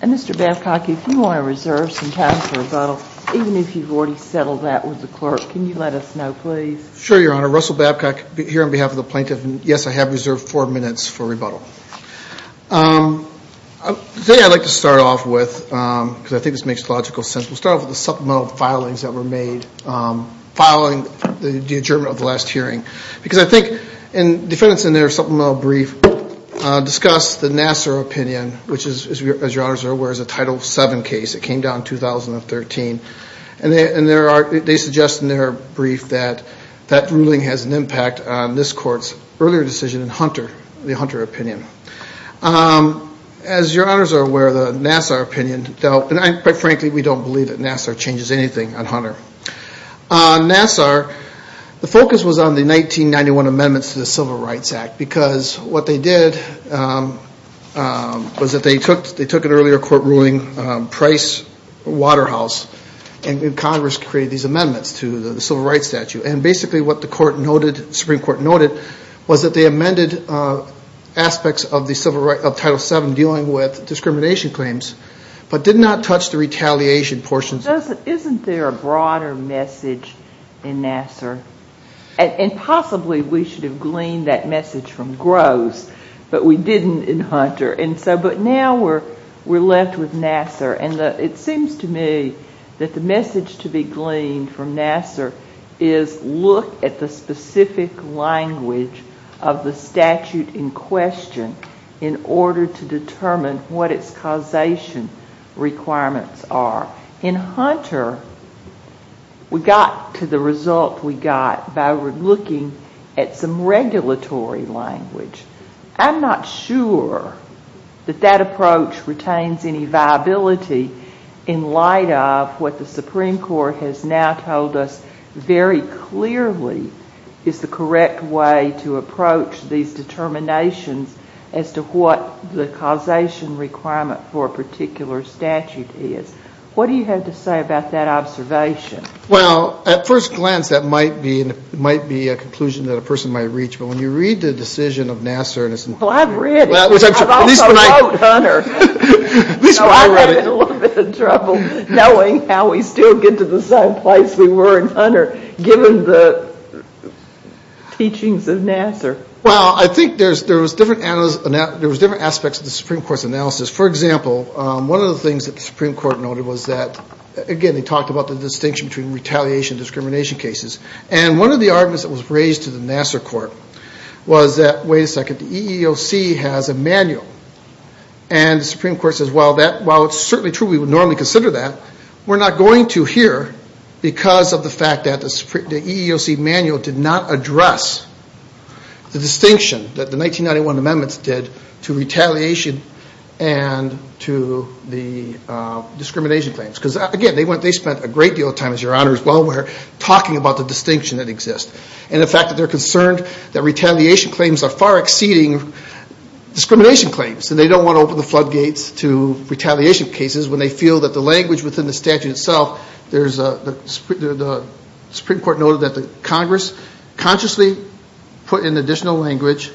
and Mr. Babcock if you want to reserve some time for rebuttal even if you've already settled that with the clerk can you let us know please sure your honor Russell Babcock here on behalf of the plaintiff and yes I have reserved four minutes for rebuttal today I'd like to start off with because I think this file is ever made following the adjournment of last hearing because I think and defendants in their supplemental brief discuss the Nassar opinion which is as your honors are aware as a title 7 case it came down 2013 and they and there are they suggest in their brief that that ruling has an impact on this court's earlier decision in Hunter the Hunter opinion as your honors are aware the Nassar opinion dealt and I quite frankly we don't believe that Nassar changes anything on Hunter. On Nassar the focus was on the 1991 amendments to the Civil Rights Act because what they did was that they took they took an earlier court ruling Price Waterhouse and Congress create these amendments to the Civil Rights Statute and basically what the court noted Supreme Court noted was that they amended aspects of the Civil Rights of Title 7 dealing with discrimination claims but did not touch the retaliation portions doesn't isn't there a broader message in Nassar and possibly we should have gleaned that message from Gross but we didn't in Hunter and so but now we're we're left with Nassar and it seems to me that the message to be gleaned from Nassar is look at the specific language of the statute in question in order to determine what its causation requirements are. In Hunter we got to the result we got by looking at some regulatory language. I'm not sure that that approach retains any viability in light of what the Supreme Court has now told us very clearly is the correct way to approach these determinations as to what the causation requirement for a particular statute is. What do you have to say about that observation? Well at first glance that might be it might be a conclusion that a person might reach but when you read the decision of Nassar. Well I've read it. I've also wrote Hunter. So I'm having a little bit of trouble knowing how we still get to the same place we were in Hunter given the teachings of Nassar. Well I think there's there was different aspects of the Supreme Court's analysis. For example one of the things that the Supreme Court noted was that again they talked about the distinction between retaliation discrimination cases and one of the arguments that was raised to the Nassar court was that wait a second the EEOC has a manual and the Supreme Court says well that while it's certainly true we would normally consider that we're not going to here because of the fact that the EEOC manual did not address the distinction that the 1991 amendments did to retaliation and to the discrimination claims because again they went they spent a great deal of time as your honor as well we're talking about the distinction that exists and the fact that they're concerned that retaliation claims are far exceeding discrimination claims so they don't want to open the floodgates to retaliation cases when they feel that the language within the statute itself there's a the Supreme Court noted that the Congress consciously put in additional language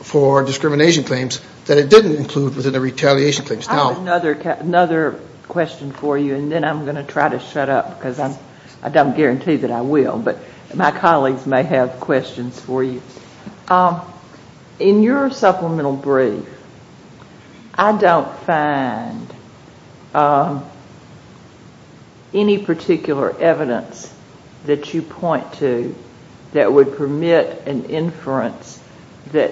for discrimination claims that it didn't include within the retaliation claims. I have another question for you and then I'm going to try to shut up because I don't guarantee that I will but my colleagues may have questions for you. In your supplemental brief I don't find any particular evidence that you point to that would permit an inference that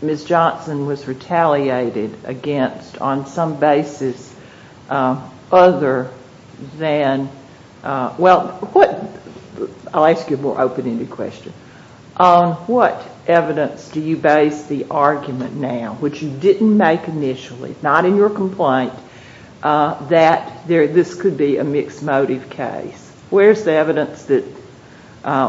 Ms. Johnson was retaliated against on some basis other than well I'll ask you a more open ended question. On what evidence do you base the argument now which you didn't make initially not in your complaint that this could be a mixed motive case where's the evidence that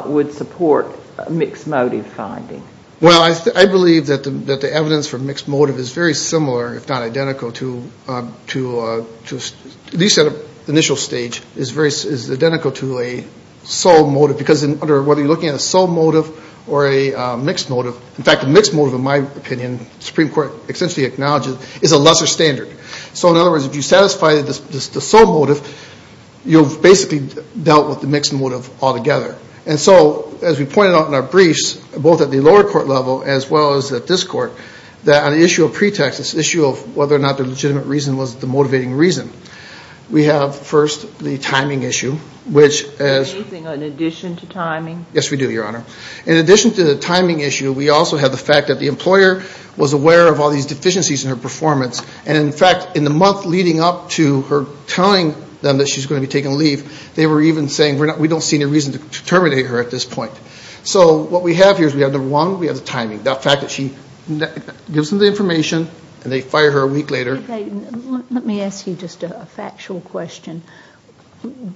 would support mixed motive finding? Well I believe that the evidence for mixed motive is very similar if not identical to at least at the initial stage is very identical to a sole motive because whether you're looking at a sole motive or a mixed motive in fact a mixed motive in my opinion the Supreme Court essentially acknowledges is a lesser standard so in other words if you satisfy the sole motive you've basically dealt with the mixed motive altogether and so as we pointed out in our briefs both at the lower court level as well as at this court that on the issue of pretext this issue of whether or not the legitimate reason was the motivating reason we have first the timing issue which as in addition to the timing issue we also have the fact that the employer was aware of all these deficiencies in her performance and in fact in the month leading up to her telling them that she's going to be taking leave they were even saying we don't see any reason to terminate her at this point so what we have here is we have number one we have the timing the fact that she gives them the information and they fire her a week later. Let me ask you just a factual question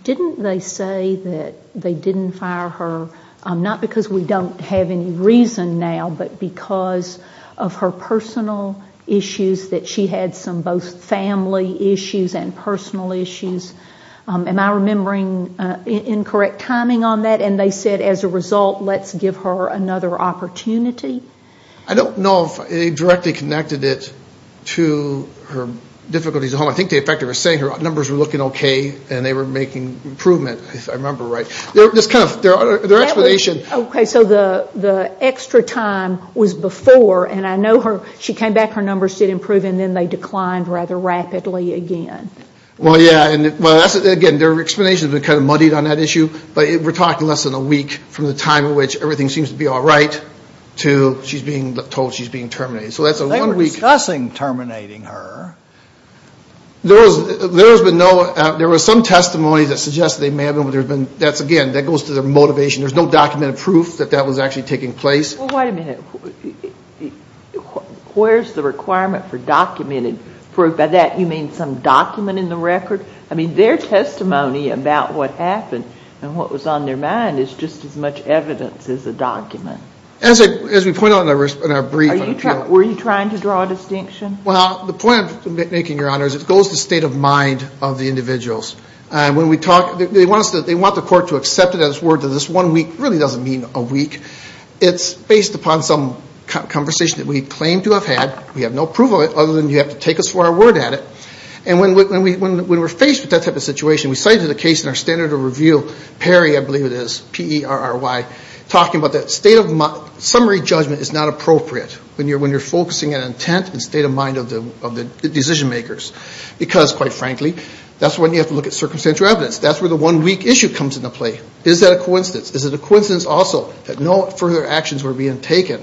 didn't they say that they didn't fire her not because we don't have any reason now but because of her personal issues that she had some both family issues and personal issues am I remembering incorrect timing on that and they said as a result let's give her another opportunity? I don't know if they directly connected it to her difficulties at home I think the fact that they were saying her numbers were looking okay and they were making improvement if I remember right. Okay so the extra time was before and I know she came back her numbers did improve and then they declined rather rapidly again. Well yeah and again their explanation has been kind of muddied on that issue but we're talking less than a week from the time in which everything seems to be alright to she's being told she's being terminated. They were discussing terminating her. There was some testimony that suggested they may have been but again that goes to their motivation there's no documented proof that that was actually taking place. Well wait a minute where's the requirement for documented proof by that you mean some document in the record I mean their testimony about what happened and what was on their mind is just as much evidence as a document. As we pointed out in our brief. Were you trying to draw a distinction? Well the point I'm making your honor is it goes to state of mind of the individuals and when we talk they want the court to accept it as word that this one week really doesn't mean a week. It's based upon some conversation that we claim to have had we have no proof of it other than you have to take us for our word at it. And when we're faced with that type of situation we cited a case in our standard of review Perry I believe it is P-E-R-R-Y talking about that state of summary judgment is not appropriate. When you're focusing on intent and state of mind of the decision makers because quite frankly that's when you have to look at circumstantial evidence that's where the one week issue comes into play. Is that a coincidence is it a coincidence also that no further actions were being taken.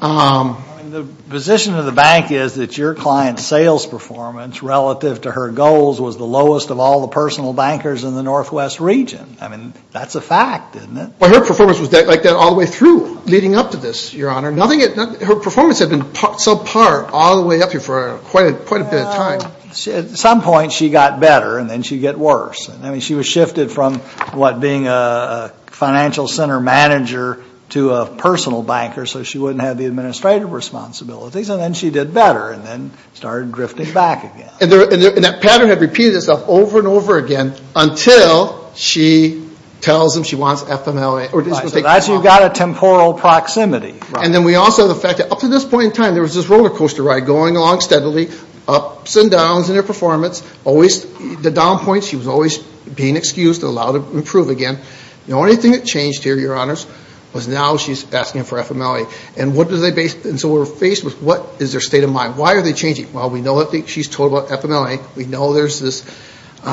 The position of the bank is that your client sales performance relative to her goals was the lowest of all the personal bankers in the northwest region. I mean that's a fact isn't it. Well her performance was like that all the way through leading up to this your honor. Her performance had been subpar all the way up here for quite a bit of time. At some point she got better and then she'd get worse. I mean she was shifted from what being a financial center manager to a personal banker so she wouldn't have the administrative responsibilities and then she did better and then started drifting back again. And that pattern had repeated itself over and over again until she tells him she wants FMLA. So that's you got a temporal proximity. And then we also the fact that up to this point in time there was this roller coaster ride going along steadily ups and downs in her performance always the down points she was always being excused and allowed to improve again. The only thing that changed here your honors was now she's asking for FMLA. And so we're faced with what is their state of mind. Why are they changing? Well we know what she's told about FMLA. We know there's this. We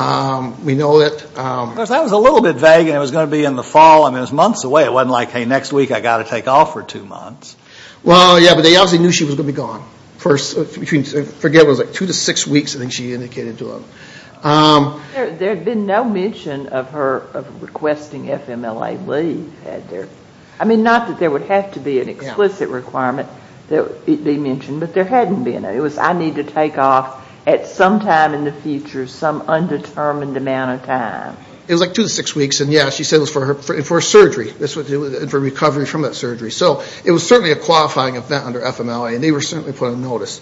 know that. That was a little bit vague and it was going to be in the fall. I mean it was months away. It wasn't like hey next week I got to take off for two months. Well yeah but they obviously knew she was going to be gone. For two to six weeks I think she indicated to them. There had been no mention of her requesting FMLA leave. I mean not that there would have to be an explicit requirement that it be mentioned but there hadn't been. It was I need to take off at some time in the future, some undetermined amount of time. It was like two to six weeks and yeah she said it was for a surgery. It was for recovery from that surgery. So it was certainly a qualifying event under FMLA and they were certainly put on notice.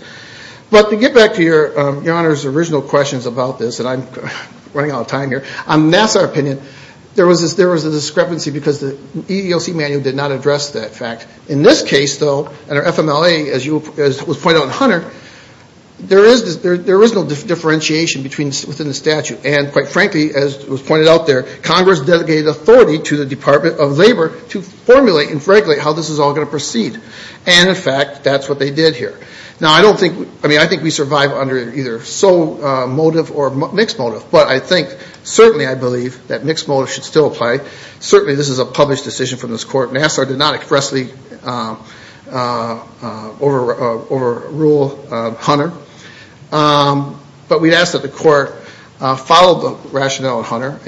But to get back to your honors original questions about this and I'm running out of time here. On Nassar opinion there was a discrepancy because the EEOC manual did not address that fact. In this case though under FMLA as was pointed out in Hunter there is no differentiation within the statute. And quite frankly as was pointed out there Congress delegated authority to the Department of Labor to formulate and regulate how this is all going to proceed. And in fact that's what they did here. Now I don't think, I mean I think we survive under either sole motive or mixed motive. But I think certainly I believe that mixed motive should still apply. Certainly this is a published decision from this court. Nassar did not expressly overrule Hunter. But we ask that the court follow the rationale of Hunter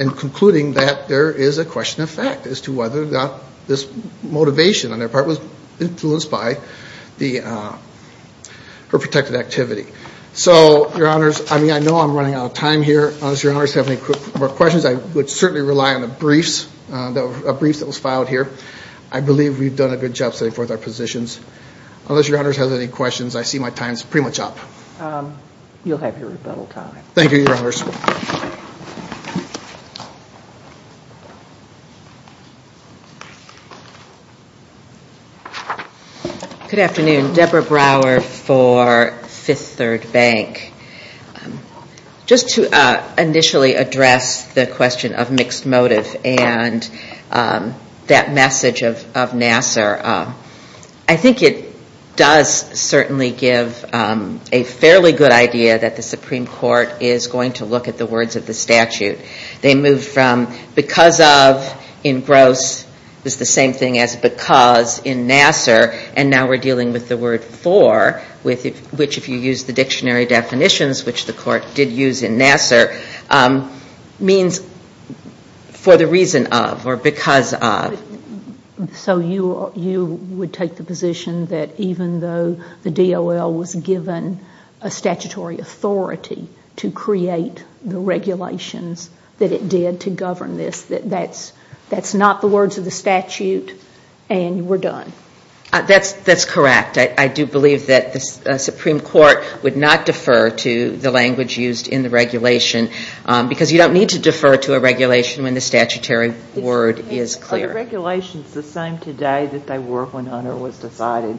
in concluding that there is a question of fact as to whether or not this motivation on their part was influenced by her protected activity. So your honors I mean I know I'm running out of time here. Unless your honors have any more questions I would certainly rely on the briefs that were filed here. I believe we've done a good job setting forth our positions. Unless your honors have any questions I see my time is pretty much up. You'll have your rebuttal time. Thank you your honors. Good afternoon. Deborah Brower for Fifth Third Bank. Just to initially address the question of mixed motive and that message of Nassar. I think it does certainly give a fairly good idea that the Supreme Court is going to look at the words of the statute. They move from because of in gross is the same thing as because in Nassar and now we're dealing with the word for which if you use the dictionary definitions which the court did use in Nassar means for the reason of or because of. So you would take the position that even though the DOL was given a statutory authority to create the regulations that it did to govern this that that's not the words of the statute and we're done. That's correct. I do believe that the Supreme Court would not defer to the language used in the regulation because you don't need to defer to a regulation when the statutory word is clear. Are the regulations the same today that they were when Hunter was decided?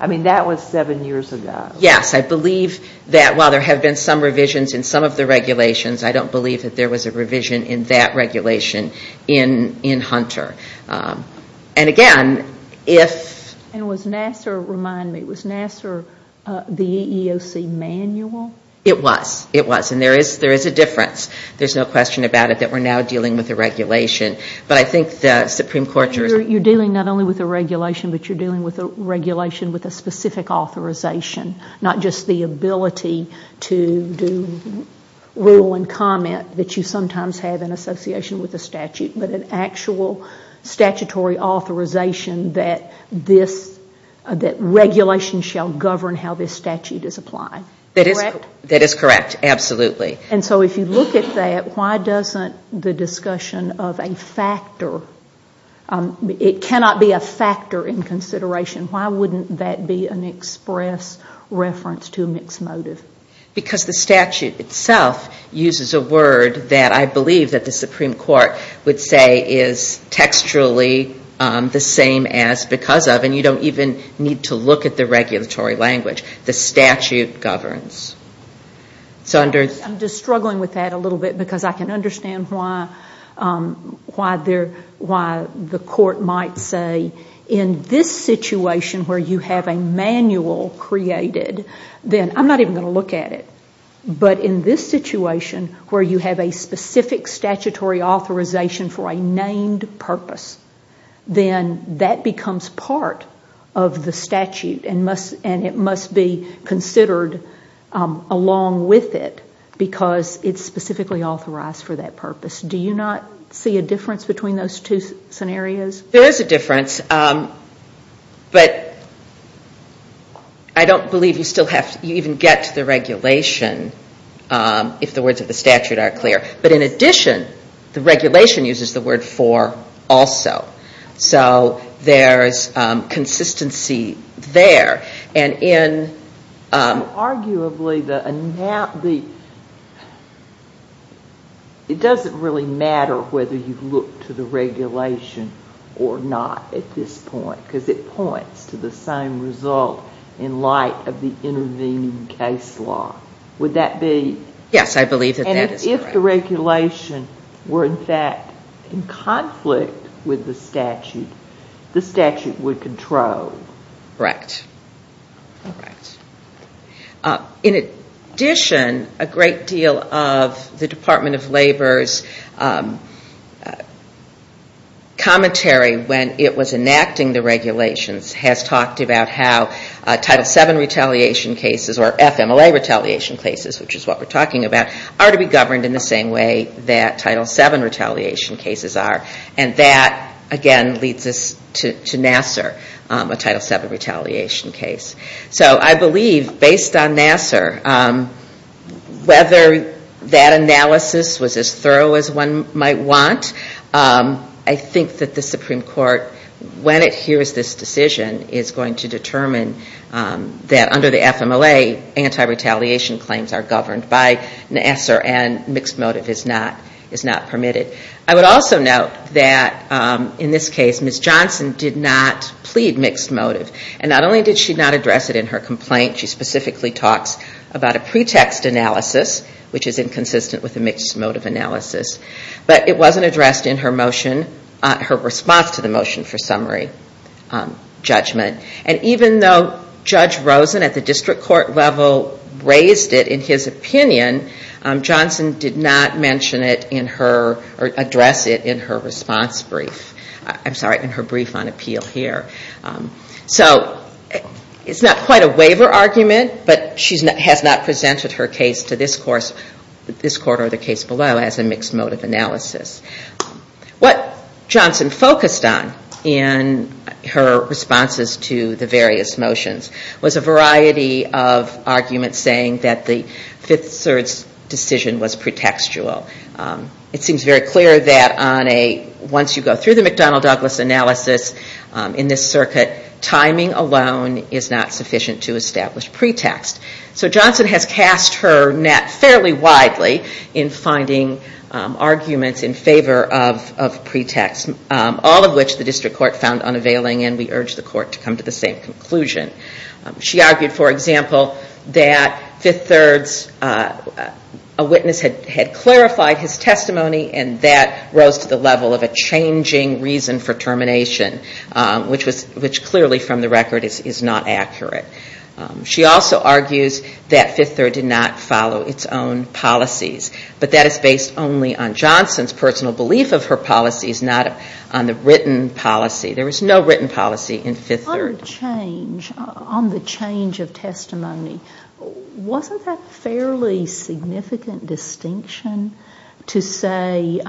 I mean that was seven years ago. Yes I believe that while there have been some revisions in some of the regulations I don't believe that there was a revision in that regulation in Hunter. And again if... And was Nassar, remind me, was Nassar the EEOC manual? It was. It was. And there is a difference. There's no question about it that we're now dealing with a regulation. But I think the Supreme Court... You're dealing not only with a regulation but you're dealing with a regulation with a specific authorization not just the ability to do rule and comment that you sometimes have in association with a statute but an actual statutory authorization that this, that regulation shall govern how this statute is applied. That is correct. Absolutely. And so if you look at that, why doesn't the discussion of a factor, it cannot be a factor in consideration, why wouldn't that be an express reference to a mixed motive? Because the statute itself uses a word that I believe that the Supreme Court would say is textually the same as because of and you don't even need to look at the regulatory language. The statute governs. I'm just struggling with that a little bit because I can understand why the court might say in this situation where you have a manual created, then I'm not even going to look at it. But in this situation where you have a specific statutory authorization for a named purpose, then that becomes part of the statute and it must be considered along with it because it's specifically authorized for that purpose. Do you not see a difference between those two scenarios? There is a difference. But I don't believe you even get to the regulation if the words of the statute are clear. But in addition, the regulation uses the word for also. So there's consistency there. Arguably, it doesn't really matter whether you look to the regulation or not at this point because it points to the same result in light of the intervening case law. Would that be? Yes, I believe that that is correct. And if the regulation were in fact in conflict with the statute, the statute would control. Correct. In addition, a great deal of the Department of Labor's commentary when it was enacting the regulations has talked about how Title VII retaliation cases or FMLA retaliation cases, which is what we're talking about, are to be governed in the same way that Title VII retaliation cases are. And that, again, leads us to Nassar, a Title VII retaliation case. So I believe, based on Nassar, whether that analysis was as thorough as one might want, I think that the Supreme Court, when it hears this decision, is going to determine that under the FMLA, anti-retaliation claims are governed by Nassar and mixed motive is not permitted. I would also note that in this case, Ms. Johnson did not plead mixed motive. And not only did she not address it in her complaint, she specifically talks about a pretext analysis, which is inconsistent with a mixed motive analysis. But it wasn't addressed in her motion, her response to the motion for summary judgment. And even though Judge Rosen at the district court level raised it in his opinion, Johnson did not mention it in her, or address it in her response brief. I'm sorry, in her brief on appeal here. So it's not quite a waiver argument, but she has not presented her case to this court or the case below as a mixed motive analysis. What Johnson focused on in her responses to the various motions was a variety of arguments saying that the Fifth Circuit's decision was pretextual. It seems very clear that on a, once you go through the McDonnell-Douglas analysis in this circuit, timing alone is not sufficient to establish pretext. So Johnson has cast her net fairly widely in finding arguments in favor of pretext. All of which the district court found unavailing and we urge the court to come to the same conclusion. She argued, for example, that Fifth Third's, a witness had clarified his testimony and that rose to the level of a changing reason for termination, which clearly from the record is not accurate. She also argues that Fifth Third did not follow its own policies. But that is based only on Johnson's personal belief of her policies, not on the written policy. There was no written policy in Fifth Third. On her change, on the change of testimony, wasn't that a fairly significant distinction to say,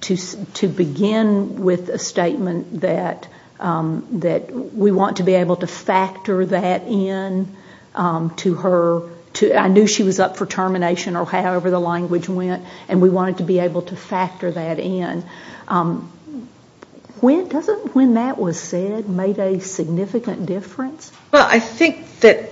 to begin with a statement that we want to be able to factor that in to her, I knew she was up for termination or however the language went and we wanted to be able to factor that in. When that was said, made a significant difference? Well, I think that,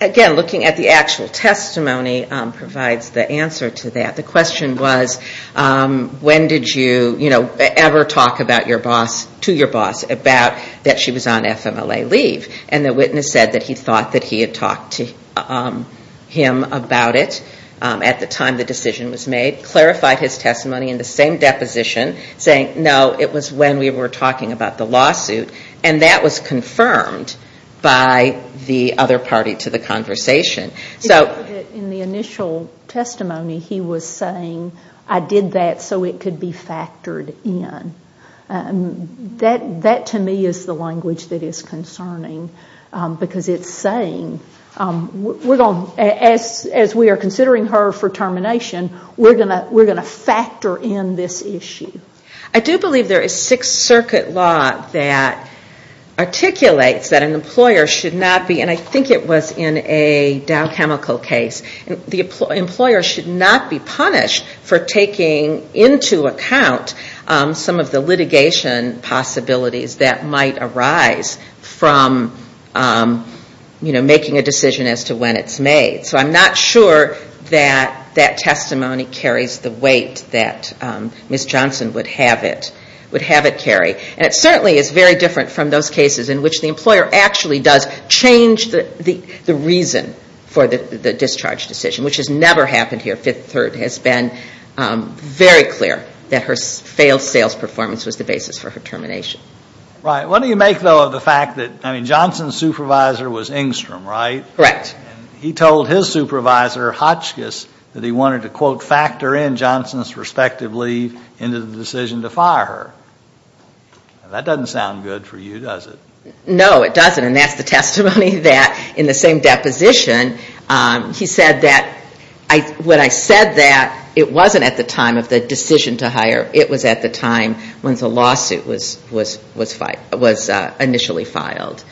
again, looking at the actual testimony provides the answer to that. The question was, when did you ever talk to your boss about that she was on FMLA leave? And the witness said that he thought that he had talked to him about it at the time the decision was made, clarified his testimony in the same deposition, saying no, it was when we were talking about the lawsuit, and that was confirmed by the other party to the conversation. In the initial testimony, he was saying, I did that so it could be factored in. That to me is the language that is concerning, because it's saying, as we are considering her for termination, we are going to factor in this issue. I do believe there is Sixth Circuit law that articulates that an employer should not be, and I think it was in a Dow Chemical case, the employer should not be punished for taking into account some of the litigation possibilities that might arise from making a decision as to when it's made. So I'm not sure that that testimony carries the weight that Ms. Johnson would have it carry. And it certainly is very different from those cases in which the employer actually does change the reason for the discharge decision, which has never happened here. Fifth Circuit has been very clear that her failed sales performance was the basis for her termination. Right. What do you make, though, of the fact that, I mean, Johnson's supervisor was Engstrom, right? Correct. And he told his supervisor, Hotchkiss, that he wanted to, quote, factor in Johnson's respective leave into the decision to fire her. Now, that doesn't sound good for you, does it? No, it doesn't, and that's the testimony that, in the same deposition, he said that, when I said that, it wasn't at the time of the decision to hire, it was at the time when the lawsuit was initially filed.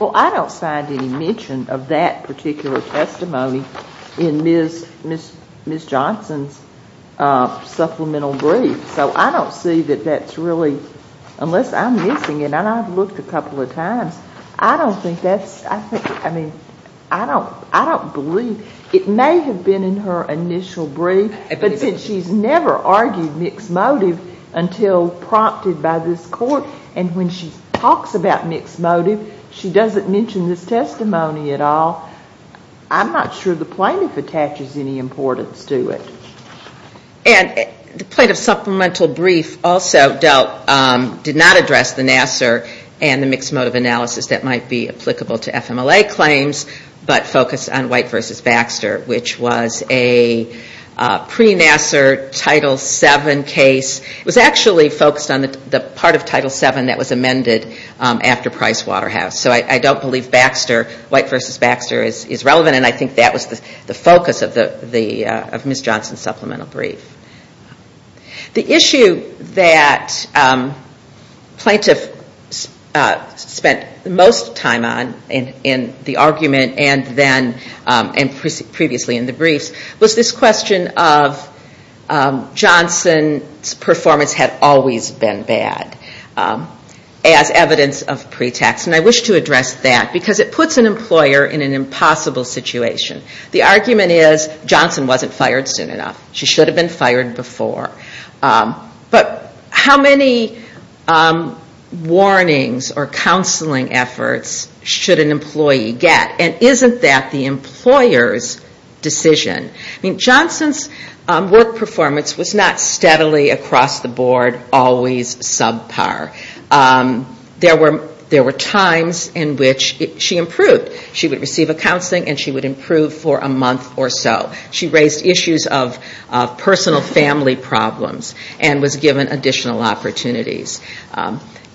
Well, I don't find any mention of that particular testimony in Ms. Johnson's supplemental brief, so I don't see that that's really, unless I'm missing it, and I've looked a couple of times, I don't think that's, I mean, I don't believe, it may have been in her initial brief, but since she's never argued mixed motive until prompted by this court, and when she talks about mixed motive, she doesn't mention this testimony at all, I'm not sure the plaintiff attaches any importance to it. And the plaintiff's supplemental brief also dealt, did not address the Nassar and the mixed motive analysis that might be applicable to FMLA claims, but focused on White v. Baxter, which was a pre-Nassar Title VII case. It was actually focused on the part of Title VII that was amended after Pricewaterhouse, so I don't believe White v. Baxter is relevant, and I think that was the focus of Ms. Johnson's supplemental brief. The issue that plaintiff spent most time on in the argument, and previously in the briefs, was this question of Johnson's performance had always been bad, as evidence of pretext, and I wish to address that, because it puts an employer in an impossible situation. The argument is, Johnson wasn't fired soon enough. She should have been fired before. But how many warnings or counseling efforts should an employee get? And isn't that the employer's decision? Johnson's work performance was not steadily across the board, always subpar. There were times in which she improved. She would receive a counseling, and she would improve for a month or so. She raised issues of personal family problems, and was given additional opportunities.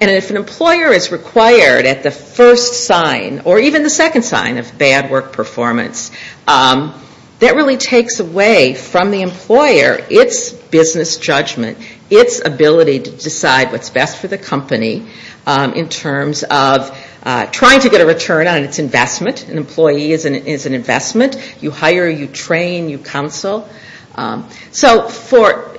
And if an employer is required at the first sign, or even the second sign of bad work performance, that really takes away from the employer its business judgment, its ability to decide what's best for the company, in terms of trying to get a return on its investment. An employee is an investment. You hire, you train, you counsel. So for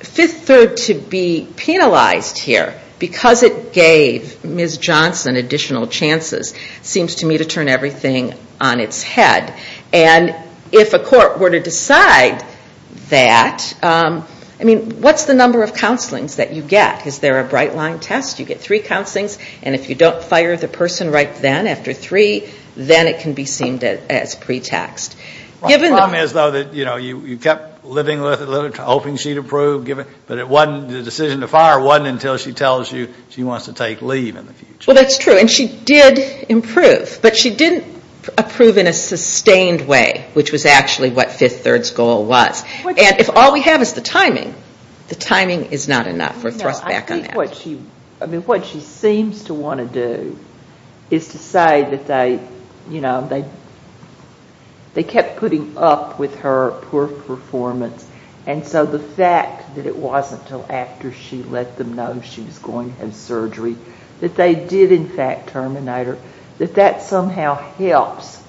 Fifth Third to be penalized here, because it gave Ms. Johnson additional chances, seems to me to turn everything on its head. And if a court were to decide that, I mean, what's the number of counselings that you get? Is there a bright line test? You get three counselings, and if you don't fire the person right then, after three, then it can be seen as pre-taxed. The problem is, though, that you kept living with it, hoping she'd improve, but the decision to fire wasn't until she tells you she wants to take leave in the future. Well, that's true. And she did improve, but she didn't approve in a sustained way, which was actually what Fifth Third's goal was. And if all we have is the timing, the timing is not enough. We're thrust back on that. I mean, what she seems to want to do is to say that they, you know, they kept putting up with her poor performance, and so the fact that it wasn't until after she let them know she was going to have surgery, that they did in fact terminate her, that that somehow helps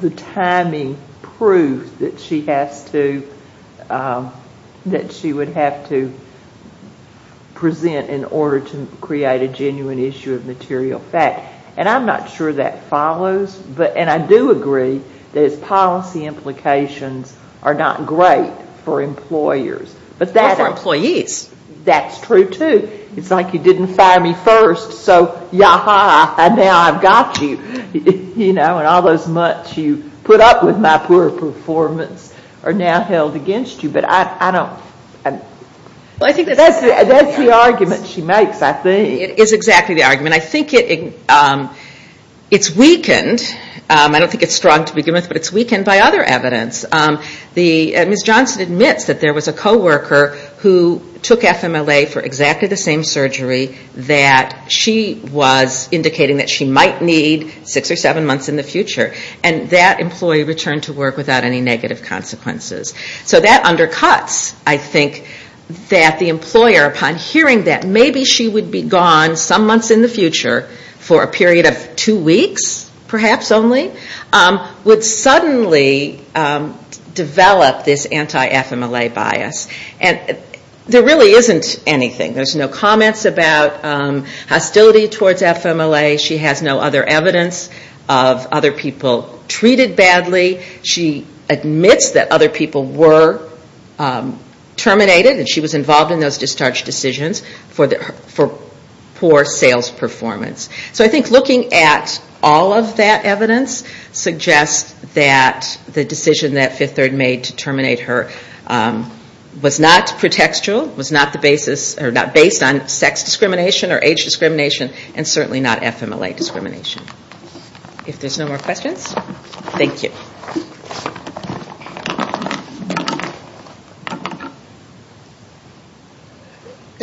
the timing prove that she has to, that she would have to present in order to create a genuine issue of material fact. And I'm not sure that follows, and I do agree that its policy implications are not great for employers. Or for employees. That's true, too. They fire me first, so yaha, and now I've got you. You know, and all those months you put up with my poor performance are now held against you. But I don't, that's the argument she makes, I think. It is exactly the argument. I think it's weakened, I don't think it's strong to begin with, but it's weakened by other evidence. Ms. Johnson admits that there was a co-worker who took FMLA for exactly the same surgery that she was indicating that she might need six or seven months in the future. And that employee returned to work without any negative consequences. So that undercuts, I think, that the employer, upon hearing that maybe she would be gone some months in the future for a period of two weeks, perhaps only, would suddenly develop this anti-FMLA bias. And there really isn't anything. There's no comments about hostility towards FMLA. She has no other evidence of other people treated badly. She admits that other people were terminated, and she was involved in those discharge decisions for poor sales performance. So I think looking at all of that evidence suggests that the decision that Fifth Third made to terminate her was not pretextual, was not based on sex discrimination or age discrimination, and certainly not FMLA discrimination. If there's no more questions, thank you.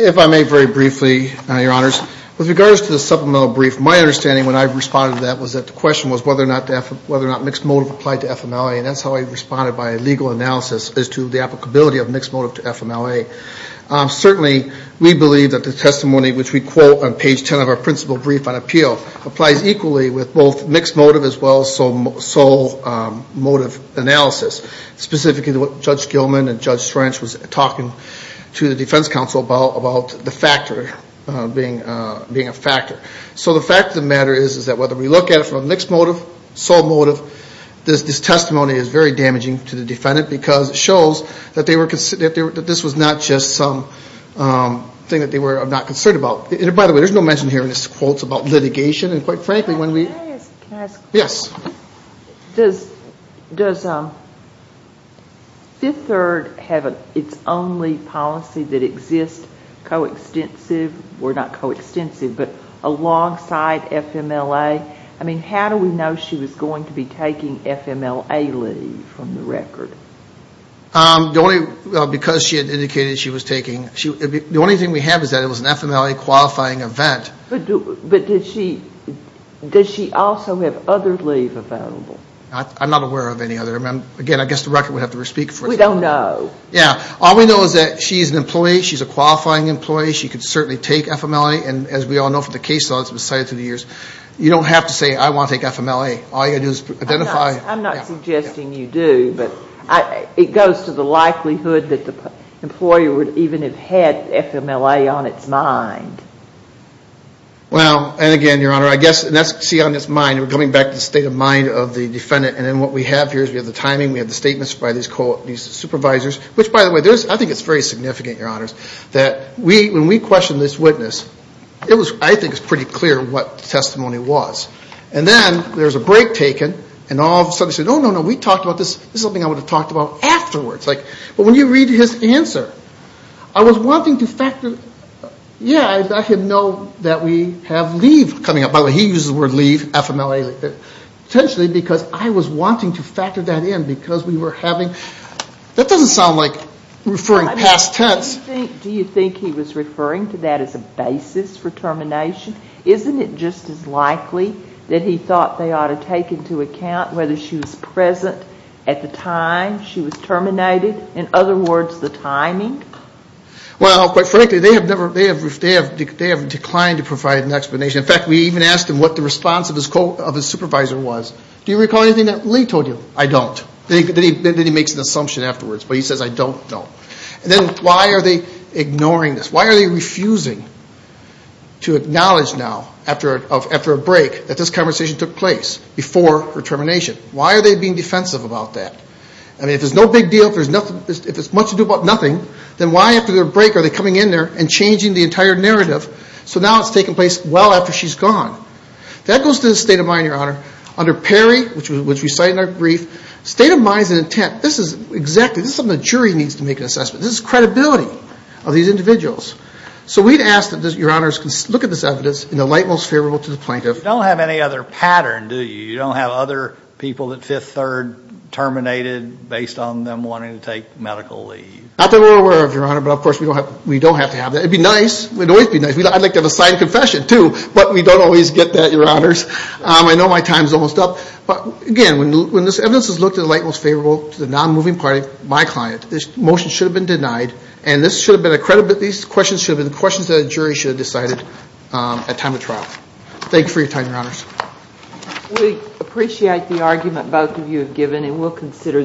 If I may very briefly, Your Honors, with regards to the supplemental brief, my understanding when I responded to that was that the question was whether or not mixed motive applied to FMLA, and that's how I responded by legal analysis as to the applicability of mixed motive to FMLA. Certainly, we believe that the testimony which we quote on page 10 of our principal brief on appeal applies equally with both mixed motive as well as sole motive analysis, specifically what Judge Gilman and Judge Strange was talking to the defense counsel about the factor being a factor. So the fact of the matter is that whether we look at it from a mixed motive, sole motive, this testimony is very damaging to the defendant because it shows that this was not just something that they were not concerned about. By the way, there's no mention here in this quote about litigation, and quite frankly when we... Can I ask a question? Yes. Does Fifth Third have its only policy that exists coextensive, or not coextensive, but alongside FMLA? I mean, how do we know from the record? Because she had indicated she was taking FMLA leave and the only thing we have is that it was an FMLA qualifying event. But did she also have other leave available? I'm not aware of any other. Again, I guess the record would have to speak for itself. We don't know. Yeah, all we know is that she's an employee, she's a qualifying employee, she could certainly take FMLA, and as we all know from the case that's been cited through the years, you don't have to say I want to take FMLA. All you have to do is identify... I'm not suggesting you do, but I'm not suggesting that she wouldn't have had FMLA on its mind. Well, and again, Your Honor, I guess that's to see on its mind. We're coming back to the state of mind of the defendant, and then what we have here is we have the timing, we have the statements by these supervisors, which, by the way, I think it's very significant, Your Honors, that when we questioned this witness, I think it's pretty clear what the testimony was. And then there's a break taken, and all of a sudden he said, oh, no, no, we talked about this, this is something I would have talked about afterwards. But when you read his answer, I was wanting to factor, yeah, I let him know that we have leave coming up. By the way, he uses the word leave, FMLA. Potentially because I was wanting to factor that in because we were having, that doesn't sound like referring past tense. Do you think he was referring to that as a basis for termination? Isn't it just as likely that he thought they ought to take into account whether she was present at the time she was terminated? In other words, the timing? Well, quite frankly, they have declined to provide an explanation. In fact, we even asked him what the response of his supervisor was. Do you recall anything that Lee told you? I don't. Then he makes an assumption afterwards, but he says I don't know. And then why are they ignoring this? Why are they refusing to acknowledge now, after a break, the termination? Why are they being defensive about that? I mean, if it's no big deal, if it's much to do about nothing, then why after their break are they coming in there and changing the entire narrative so now it's taking place well after she's gone? That goes to the state of mind, Your Honor. Under Perry, which we cite in our brief, state of mind is an intent. This is exactly, this is something the jury should have decided at time of trial. Thank you for your time, Your Honor. Thank you. Thank you. Thank you. Thank you. Thank you. Thank you. Thank you for the argument both of you have given and we'll consider the case carefully.